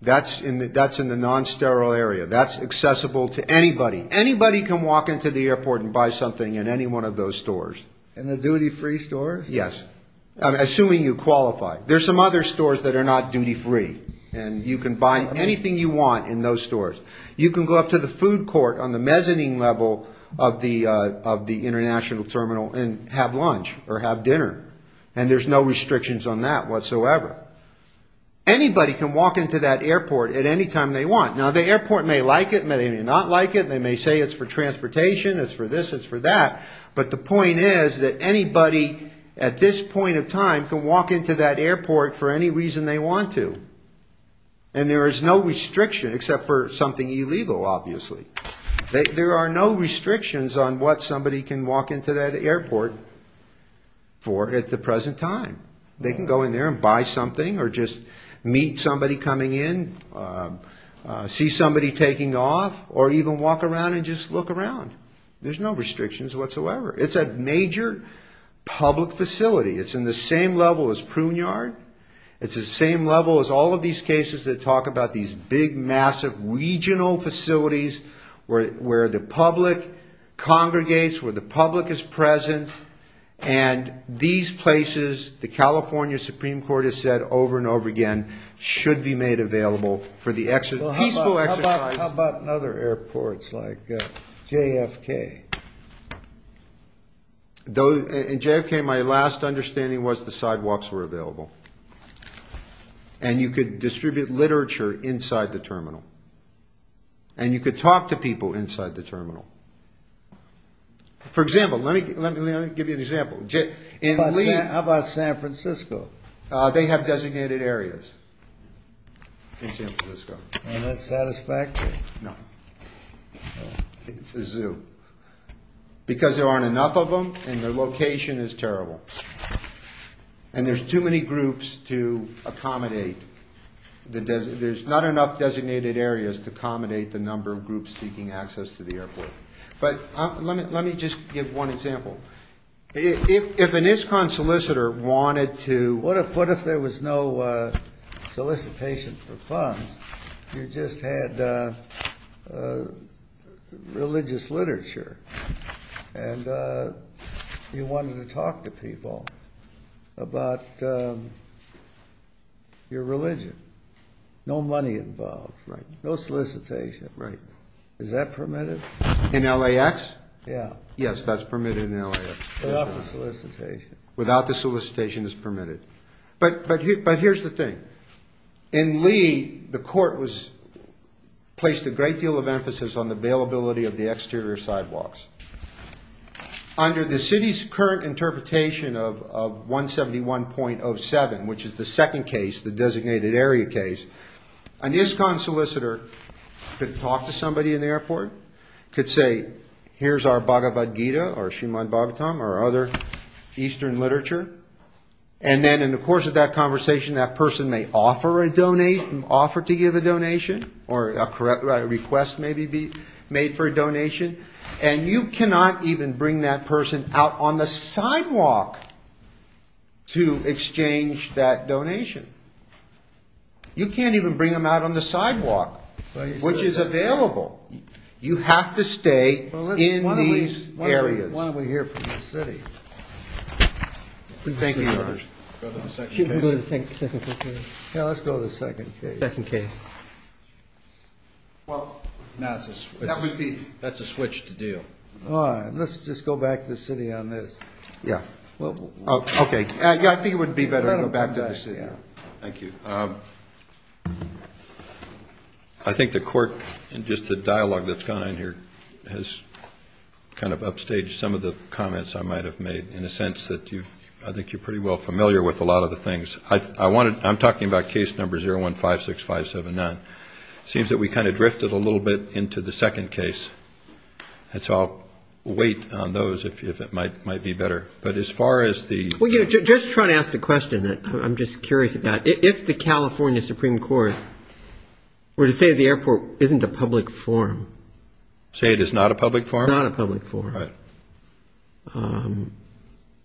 That's in the non-sterile area. That's accessible to anybody. Anybody can walk into the airport and buy something in any one of those stores. In the duty-free stores? Yes. I'm assuming you qualify. There's some other stores that are not duty-free. And you can buy anything you want in those stores. You can go up to the food court on the mezzanine level of the international terminal and have lunch or have dinner. And there's no restrictions on that whatsoever. Anybody can walk into that airport at any time they want. Now, the airport may like it, may not like it. They may say it's for transportation, it's for this, it's for that. But the point is that anybody at this point of time can walk into that airport for any reason they want to. And there is no restriction except for something illegal, obviously. There are no restrictions on what somebody can walk into that airport for at the present time. They can go in there and buy something or just meet somebody coming in, see somebody taking off, or even walk around and just look around. There's no restrictions whatsoever. It's a major public facility. It's in the same level as Pruneyard. It's the same level as all of these cases that talk about these big, massive regional facilities where the public congregates, where the public is present. And these places, the California Supreme Court has said over and over again, should be made available for the peaceful exercise. How about in other airports like JFK? In JFK, my last understanding was the sidewalks were available. And you could distribute literature inside the terminal. And you could talk to people inside the terminal. For example, let me give you an example. How about San Francisco? They have designated areas in San Francisco. And that's satisfactory? No. It's a zoo. Because there aren't enough of them and their location is terrible. And there's too many groups to accommodate. There's not enough designated areas to accommodate the number of groups seeking access to the airport. But let me just give one example. If an ISCON solicitor wanted to... What if there was no solicitation for funds? You just had religious literature. And you wanted to talk to people about your religion. No money involved. Right. No solicitation. Right. Is that permitted? In LAX? Yeah. Yes, that's permitted in LAX. Without the solicitation. Without the solicitation, it's permitted. But here's the thing. In Lee, the court placed a great deal of emphasis on the availability of the exterior sidewalks. Under the city's current interpretation of 171.07, which is the second case, the designated area case, an ISCON solicitor could talk to somebody in the airport, could say, here's our Bhagavad Gita or Srimad Bhagavatam or other eastern literature. And then in the course of that conversation, that person may offer to give a donation, or a request may be made for a donation. And you cannot even bring that person out on the sidewalk to exchange that donation. You can't even bring them out on the sidewalk, which is available. You have to stay in these areas. Why don't we hear from the city? Thank you, Your Honor. Go to the second case? Should we go to the second case? Yeah, let's go to the second case. The second case. Well, that's a switch to do. Let's just go back to the city on this. Yeah. Okay. Yeah, I think it would be better to go back to the city. Thank you. I think the court, in just the dialogue that's gone on here, has kind of upstaged some of the comments I might have made, in the sense that I think you're pretty well familiar with a lot of the things. I'm talking about case number 0156579. It seems that we kind of drifted a little bit into the second case. And so I'll wait on those, if it might be better. Just trying to ask a question that I'm just curious about. If the California Supreme Court were to say the airport isn't a public forum. Say it is not a public forum? Not a public forum. Right.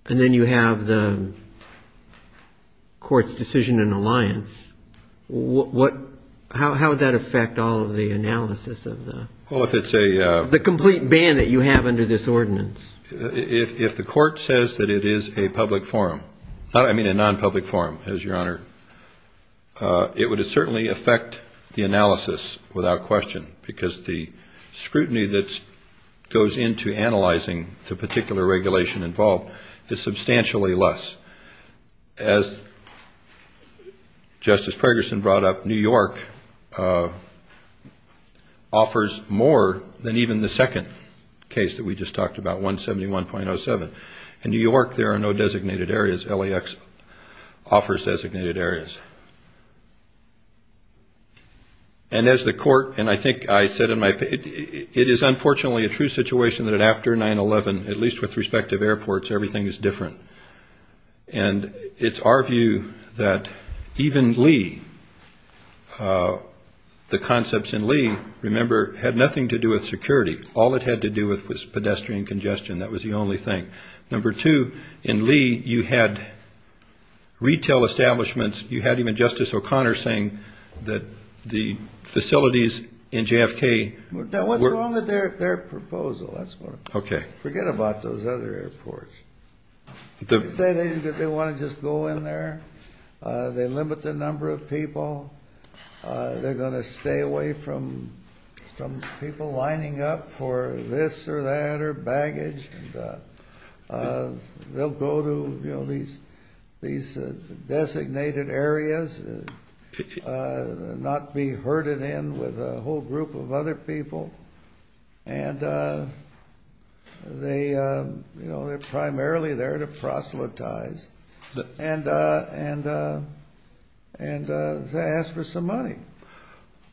And then you have the court's decision in alliance. How would that affect all of the analysis of the complete ban that you have under this ordinance? If the court says that it is a public forum, I mean a non-public forum, as your Honor, it would certainly affect the analysis without question, because the scrutiny that goes into analyzing the particular regulation involved is substantially less. As Justice Pergerson brought up, New York offers more than even the second case that we just talked about, 171.07. In New York, there are no designated areas. LAX offers designated areas. And as the court, and I think I said in my opinion, it is unfortunately a true situation that after 9-11, at least with respect to airports, everything is different. And it's our view that even Lee, the concepts in Lee, remember, had nothing to do with security. All it had to do with was pedestrian congestion. That was the only thing. Number two, in Lee, you had retail establishments. You had even Justice O'Connor saying that the facilities in JFK were It's wrong with their proposal. Forget about those other airports. They want to just go in there. They limit the number of people. They're going to stay away from people lining up for this or that or baggage. They'll go to these designated areas and not be herded in with a whole group of other people. And they're primarily there to proselytize and to ask for some money.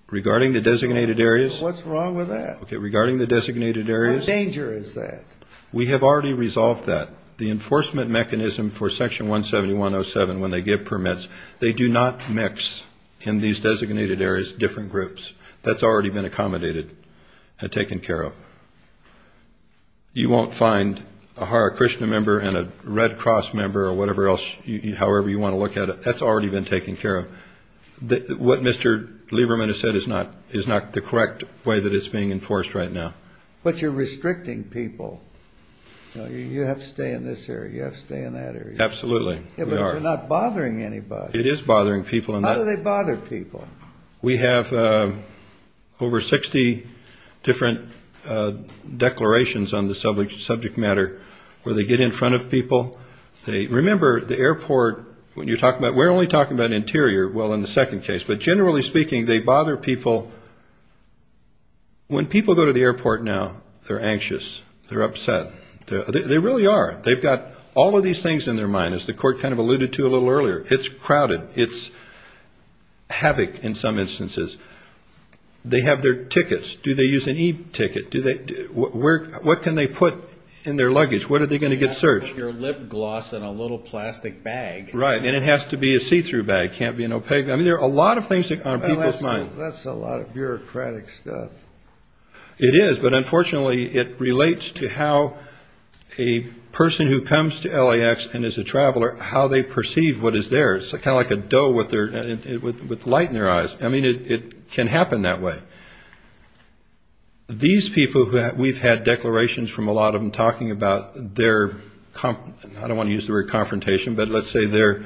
Regarding the designated areas? What's wrong with that? Regarding the designated areas? What danger is that? We have already resolved that. The enforcement mechanism for Section 171.07, when they give permits, they do not mix in these designated areas different groups. That's already been accommodated and taken care of. You won't find a Hare Krishna member and a Red Cross member or whatever else, however you want to look at it. That's already been taken care of. What Mr. Lieberman has said is not the correct way that it's being enforced right now. But you're restricting people. You have to stay in this area. You have to stay in that area. Absolutely. But you're not bothering anybody. It is bothering people. How do they bother people? We have over 60 different declarations on the subject matter where they get in front of people. Remember, the airport, we're only talking about interior, well, in the second case. But generally speaking, they bother people. When people go to the airport now, they're anxious. They're upset. They really are. They've got all of these things in their mind, as the Court kind of alluded to a little earlier. It's crowded. It's havoc in some instances. They have their tickets. Do they use an e-ticket? What can they put in their luggage? What are they going to get searched? Your lip gloss in a little plastic bag. Right. And it has to be a see-through bag. It can't be an opaque. I mean, there are a lot of things on people's minds. That's a lot of bureaucratic stuff. It is, but unfortunately it relates to how a person who comes to LAX and is a traveler, how they perceive what is theirs. It's kind of like a doe with light in their eyes. I mean, it can happen that way. These people, we've had declarations from a lot of them talking about their, I don't want to use the word confrontation, but let's say their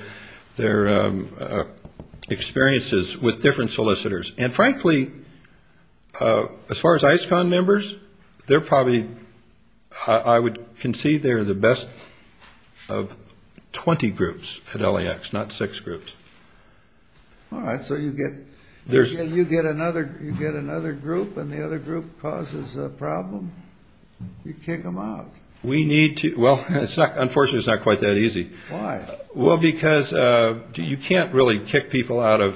experiences with different solicitors. And frankly, as far as ISCON members, they're probably, I would concede they're the best of 20 groups at LAX, not six groups. All right. So you get another group and the other group causes a problem? You kick them out. We need to. Well, unfortunately it's not quite that easy. Why? Well, because you can't really kick people out of,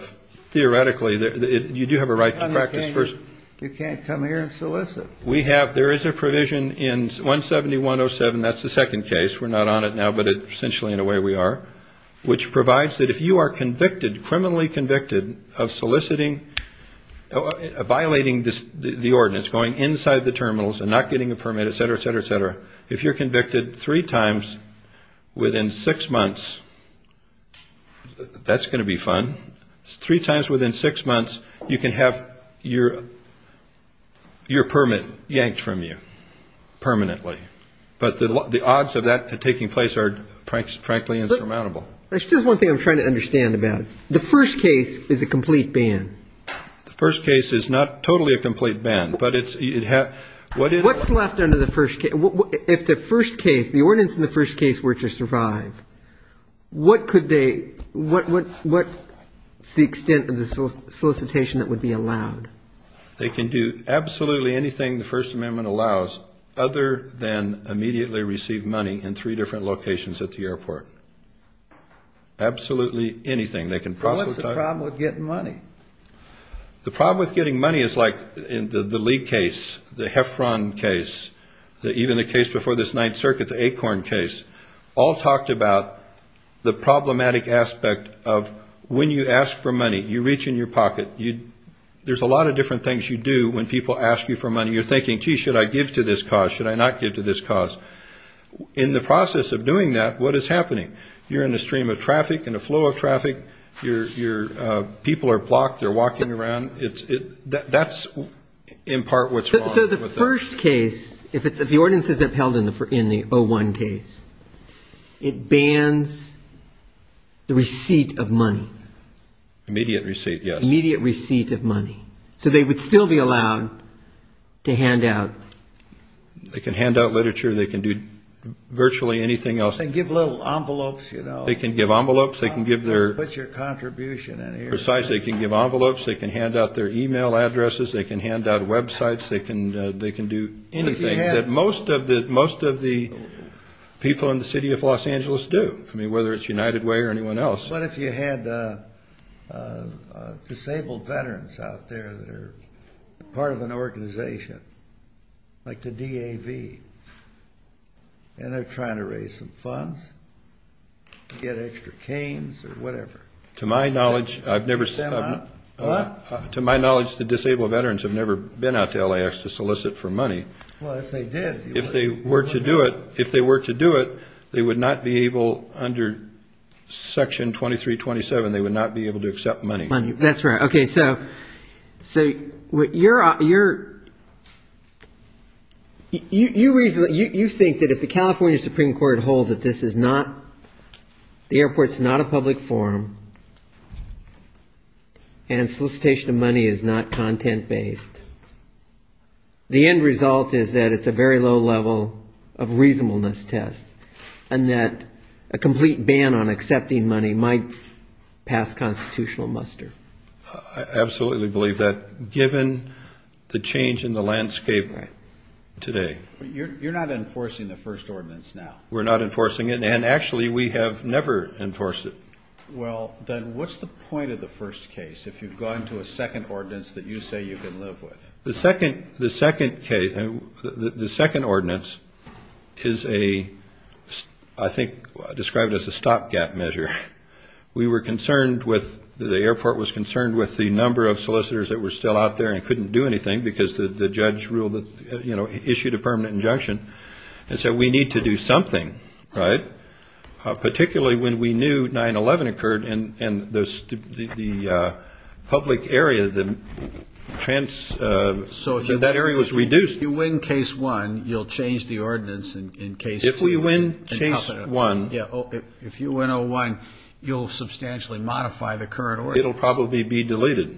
theoretically, you do have a right to practice first. You can't come here and solicit. We have, there is a provision in 171.07, that's the second case, we're not on it now, but essentially in a way we are, which provides that if you are convicted, criminally convicted of soliciting, violating the ordinance, going inside the terminals and not getting a permit, et cetera, et cetera, et cetera, if you're convicted three times within six months, that's going to be fun, three times within six months you can have your permit yanked from you permanently. But the odds of that taking place are, frankly, insurmountable. There's just one thing I'm trying to understand about it. The first case is a complete ban. The first case is not totally a complete ban, but it's, what is it? If the first case, the ordinance in the first case were to survive, what could they, what is the extent of the solicitation that would be allowed? They can do absolutely anything the First Amendment allows, other than immediately receive money in three different locations at the airport. Absolutely anything. They can proselytize. What's the problem with getting money? The problem with getting money is like in the Lee case, the Heffron case, even the case before this Ninth Circuit, the Acorn case, all talked about the problematic aspect of when you ask for money, you reach in your pocket. There's a lot of different things you do when people ask you for money. You're thinking, gee, should I give to this cause, should I not give to this cause? In the process of doing that, what is happening? People are blocked. They're walking around. That's in part what's wrong. So the first case, if the ordinance isn't held in the 01 case, it bans the receipt of money. Immediate receipt, yes. Immediate receipt of money. So they would still be allowed to hand out. They can hand out literature. They can do virtually anything else. They can give little envelopes, you know. They can give envelopes. Put your contribution in here. They can give envelopes. They can hand out their e-mail addresses. They can hand out websites. They can do anything that most of the people in the city of Los Angeles do, whether it's United Way or anyone else. What if you had disabled veterans out there that are part of an organization like the DAV, and they're trying to raise some funds to get extra canes or whatever? To my knowledge, the disabled veterans have never been out to LAX to solicit for money. Well, if they did. If they were to do it, they would not be able, under Section 2327, they would not be able to accept money. That's right. Okay, so you think that if the California Supreme Court holds that this is not the airport's not a public forum and solicitation of money is not content-based, the end result is that it's a very low level of reasonableness test and that a complete ban on accepting money might pass constitutional muster? I absolutely believe that, given the change in the landscape today. You're not enforcing the first ordinance now. We're not enforcing it, and actually we have never enforced it. Well, then what's the point of the first case if you've gone to a second ordinance that you say you can live with? The second case, the second ordinance is a, I think, described as a stopgap measure. We were concerned with, the airport was concerned with the number of solicitors that were still out there and couldn't do anything because the judge issued a permanent injunction and said we need to do something, right, particularly when we knew 9-11 occurred and the public area, that area was reduced. So if you win case one, you'll change the ordinance in case two. If we win case one. If you win O-1, you'll substantially modify the current ordinance. It will probably be deleted.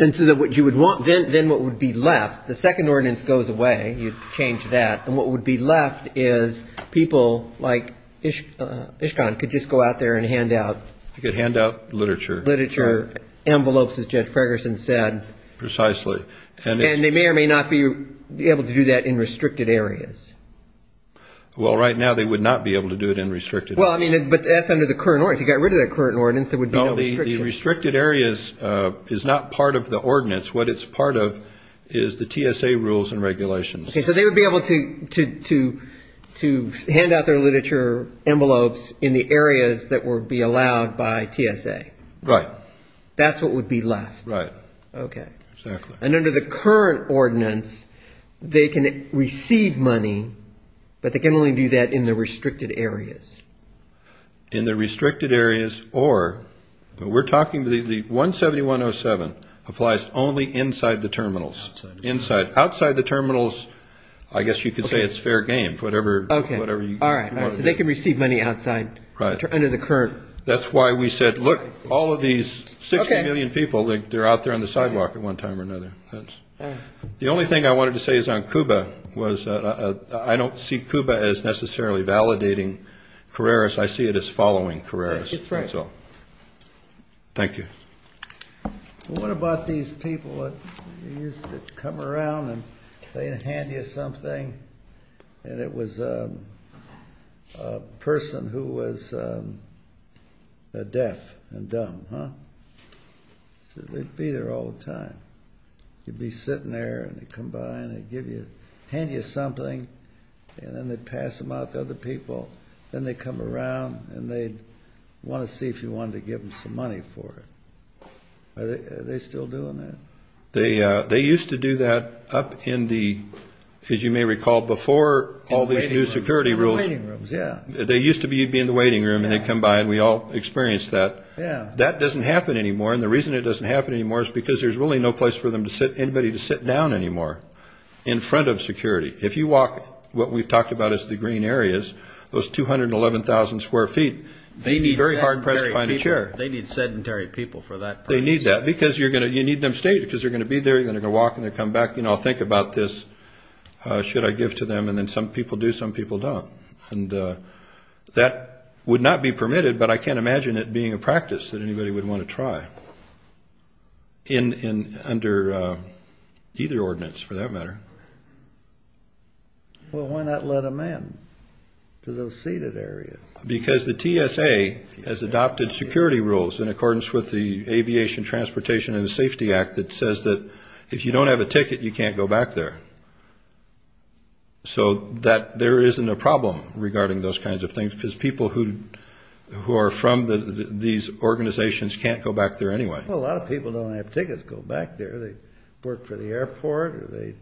And so what you would want, then what would be left, the second ordinance goes away, you change that, and what would be left is people like Ishkan could just go out there and hand out. They could hand out literature. Literature, envelopes, as Judge Ferguson said. Precisely. And they may or may not be able to do that in restricted areas. Well, right now they would not be able to do it in restricted areas. Well, I mean, but that's under the current ordinance. If you got rid of that current ordinance, there would be no restriction. No, the restricted areas is not part of the ordinance. What it's part of is the TSA rules and regulations. Okay, so they would be able to hand out their literature envelopes in the areas that would be allowed by TSA. Right. That's what would be left. Right. Okay. Exactly. And under the current ordinance, they can receive money, but they can only do that in the restricted areas. In the restricted areas, or we're talking the 171-07 applies only inside the terminals. Outside the terminals. I guess you could say it's fair game, whatever you want to do. Okay. All right. So they can receive money outside under the current. Right. That's why we said, look, all of these 60 million people, they're out there on the sidewalk at one time or another. The only thing I wanted to say is on CUBA was that I don't see CUBA as necessarily validating Carreras. I see it as following Carreras. That's right. That's all. Thank you. What about these people that used to come around and they'd hand you something, and it was a person who was deaf and dumb, huh? They'd be there all the time. You'd be sitting there, and they'd come by, and they'd hand you something, and then they'd pass them out to other people. Then they'd come around, and they'd want to see if you wanted to give them some money for it. Are they still doing that? They used to do that up in the, as you may recall, before all these new security rules. In the waiting rooms, yeah. They used to be in the waiting room, and they'd come by, and we all experienced that. Yeah. That doesn't happen anymore, and the reason it doesn't happen anymore is because there's really no place for anybody to sit down anymore in front of security. If you walk what we've talked about as the green areas, those 211,000 square feet, they need very hard press to find a chair. They need sedentary people for that purpose. They need that because you need them to stay because they're going to be there, and they're going to walk, and they're going to come back. I'll think about this. Should I give to them? And then some people do, some people don't. That would not be permitted, but I can't imagine it being a practice that anybody would want to try under either ordinance for that matter. Well, why not let them in to those seated areas? Because the TSA has adopted security rules in accordance with the Aviation, Transportation, and Safety Act that says that if you don't have a ticket, you can't go back there. So there isn't a problem regarding those kinds of things because people who are from these organizations can't go back there anyway. Well, a lot of people don't have tickets to go back there. They work for the airport, or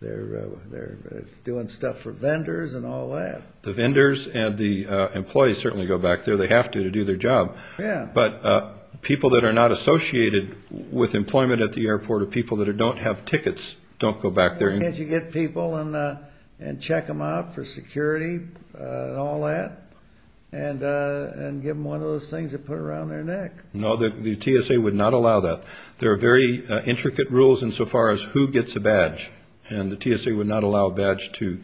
they're doing stuff for vendors and all that. The vendors and the employees certainly go back there. They have to to do their job. Yeah. But people that are not associated with employment at the airport or people that don't have tickets don't go back there. Can't you get people and check them out for security and all that and give them one of those things to put around their neck? No, the TSA would not allow that. There are very intricate rules insofar as who gets a badge, and the TSA would not allow a badge to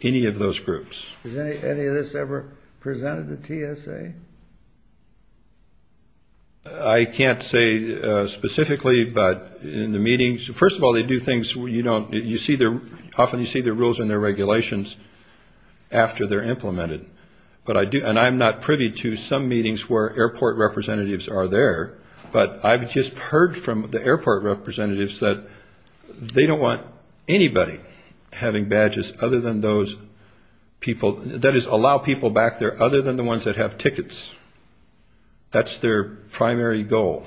any of those groups. Has any of this ever presented to TSA? I can't say specifically, but in the meetings, first of all, they do things you don't – you see their – often you see their rules and their regulations after they're implemented. And I'm not privy to some meetings where airport representatives are there, but I've just heard from the airport representatives that they don't want anybody having badges other than those people – that is, allow people back there other than the ones that have tickets. That's their primary goal.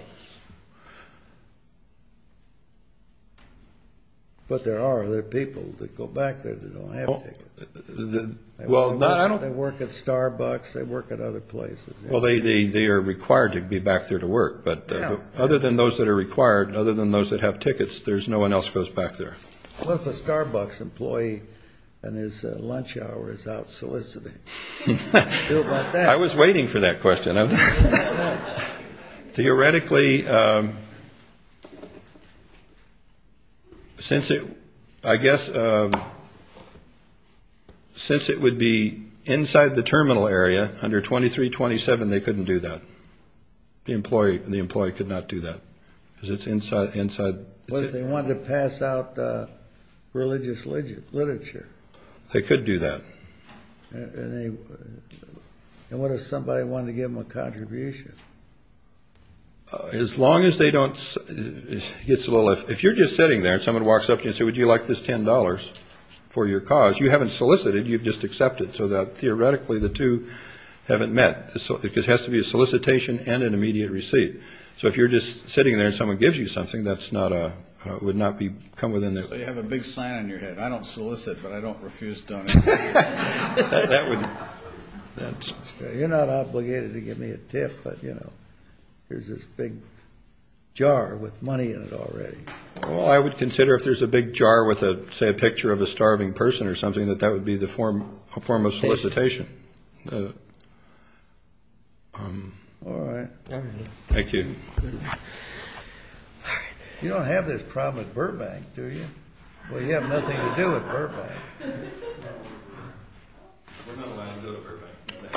But there are other people that go back there that don't have tickets. They work at Starbucks. They work at other places. Well, they are required to be back there to work, but other than those that are required, other than those that have tickets, there's no one else goes back there. What if a Starbucks employee and his lunch hour is out soliciting? I was waiting for that question. Theoretically, since it – I guess since it would be inside the terminal area under 2327, they couldn't do that. The employee could not do that because it's inside. What if they wanted to pass out religious literature? They could do that. And what if somebody wanted to give them a contribution? As long as they don't – if you're just sitting there and someone walks up to you and says, would you like this $10 for your cause, you haven't solicited, you've just accepted. So theoretically, the two haven't met. It has to be a solicitation and an immediate receipt. So if you're just sitting there and someone gives you something, that's not a – would not come within the – So you have a big sign on your head, I don't solicit, but I don't refuse donations. That would – You're not obligated to give me a tip, but, you know, here's this big jar with money in it already. Well, I would consider if there's a big jar with, say, a picture of a starving person or something, that that would be the form of solicitation. All right. Thank you. You don't have this problem at Burbank, do you? Well, you have nothing to do with Burbank. We're not allowed to go to Burbank.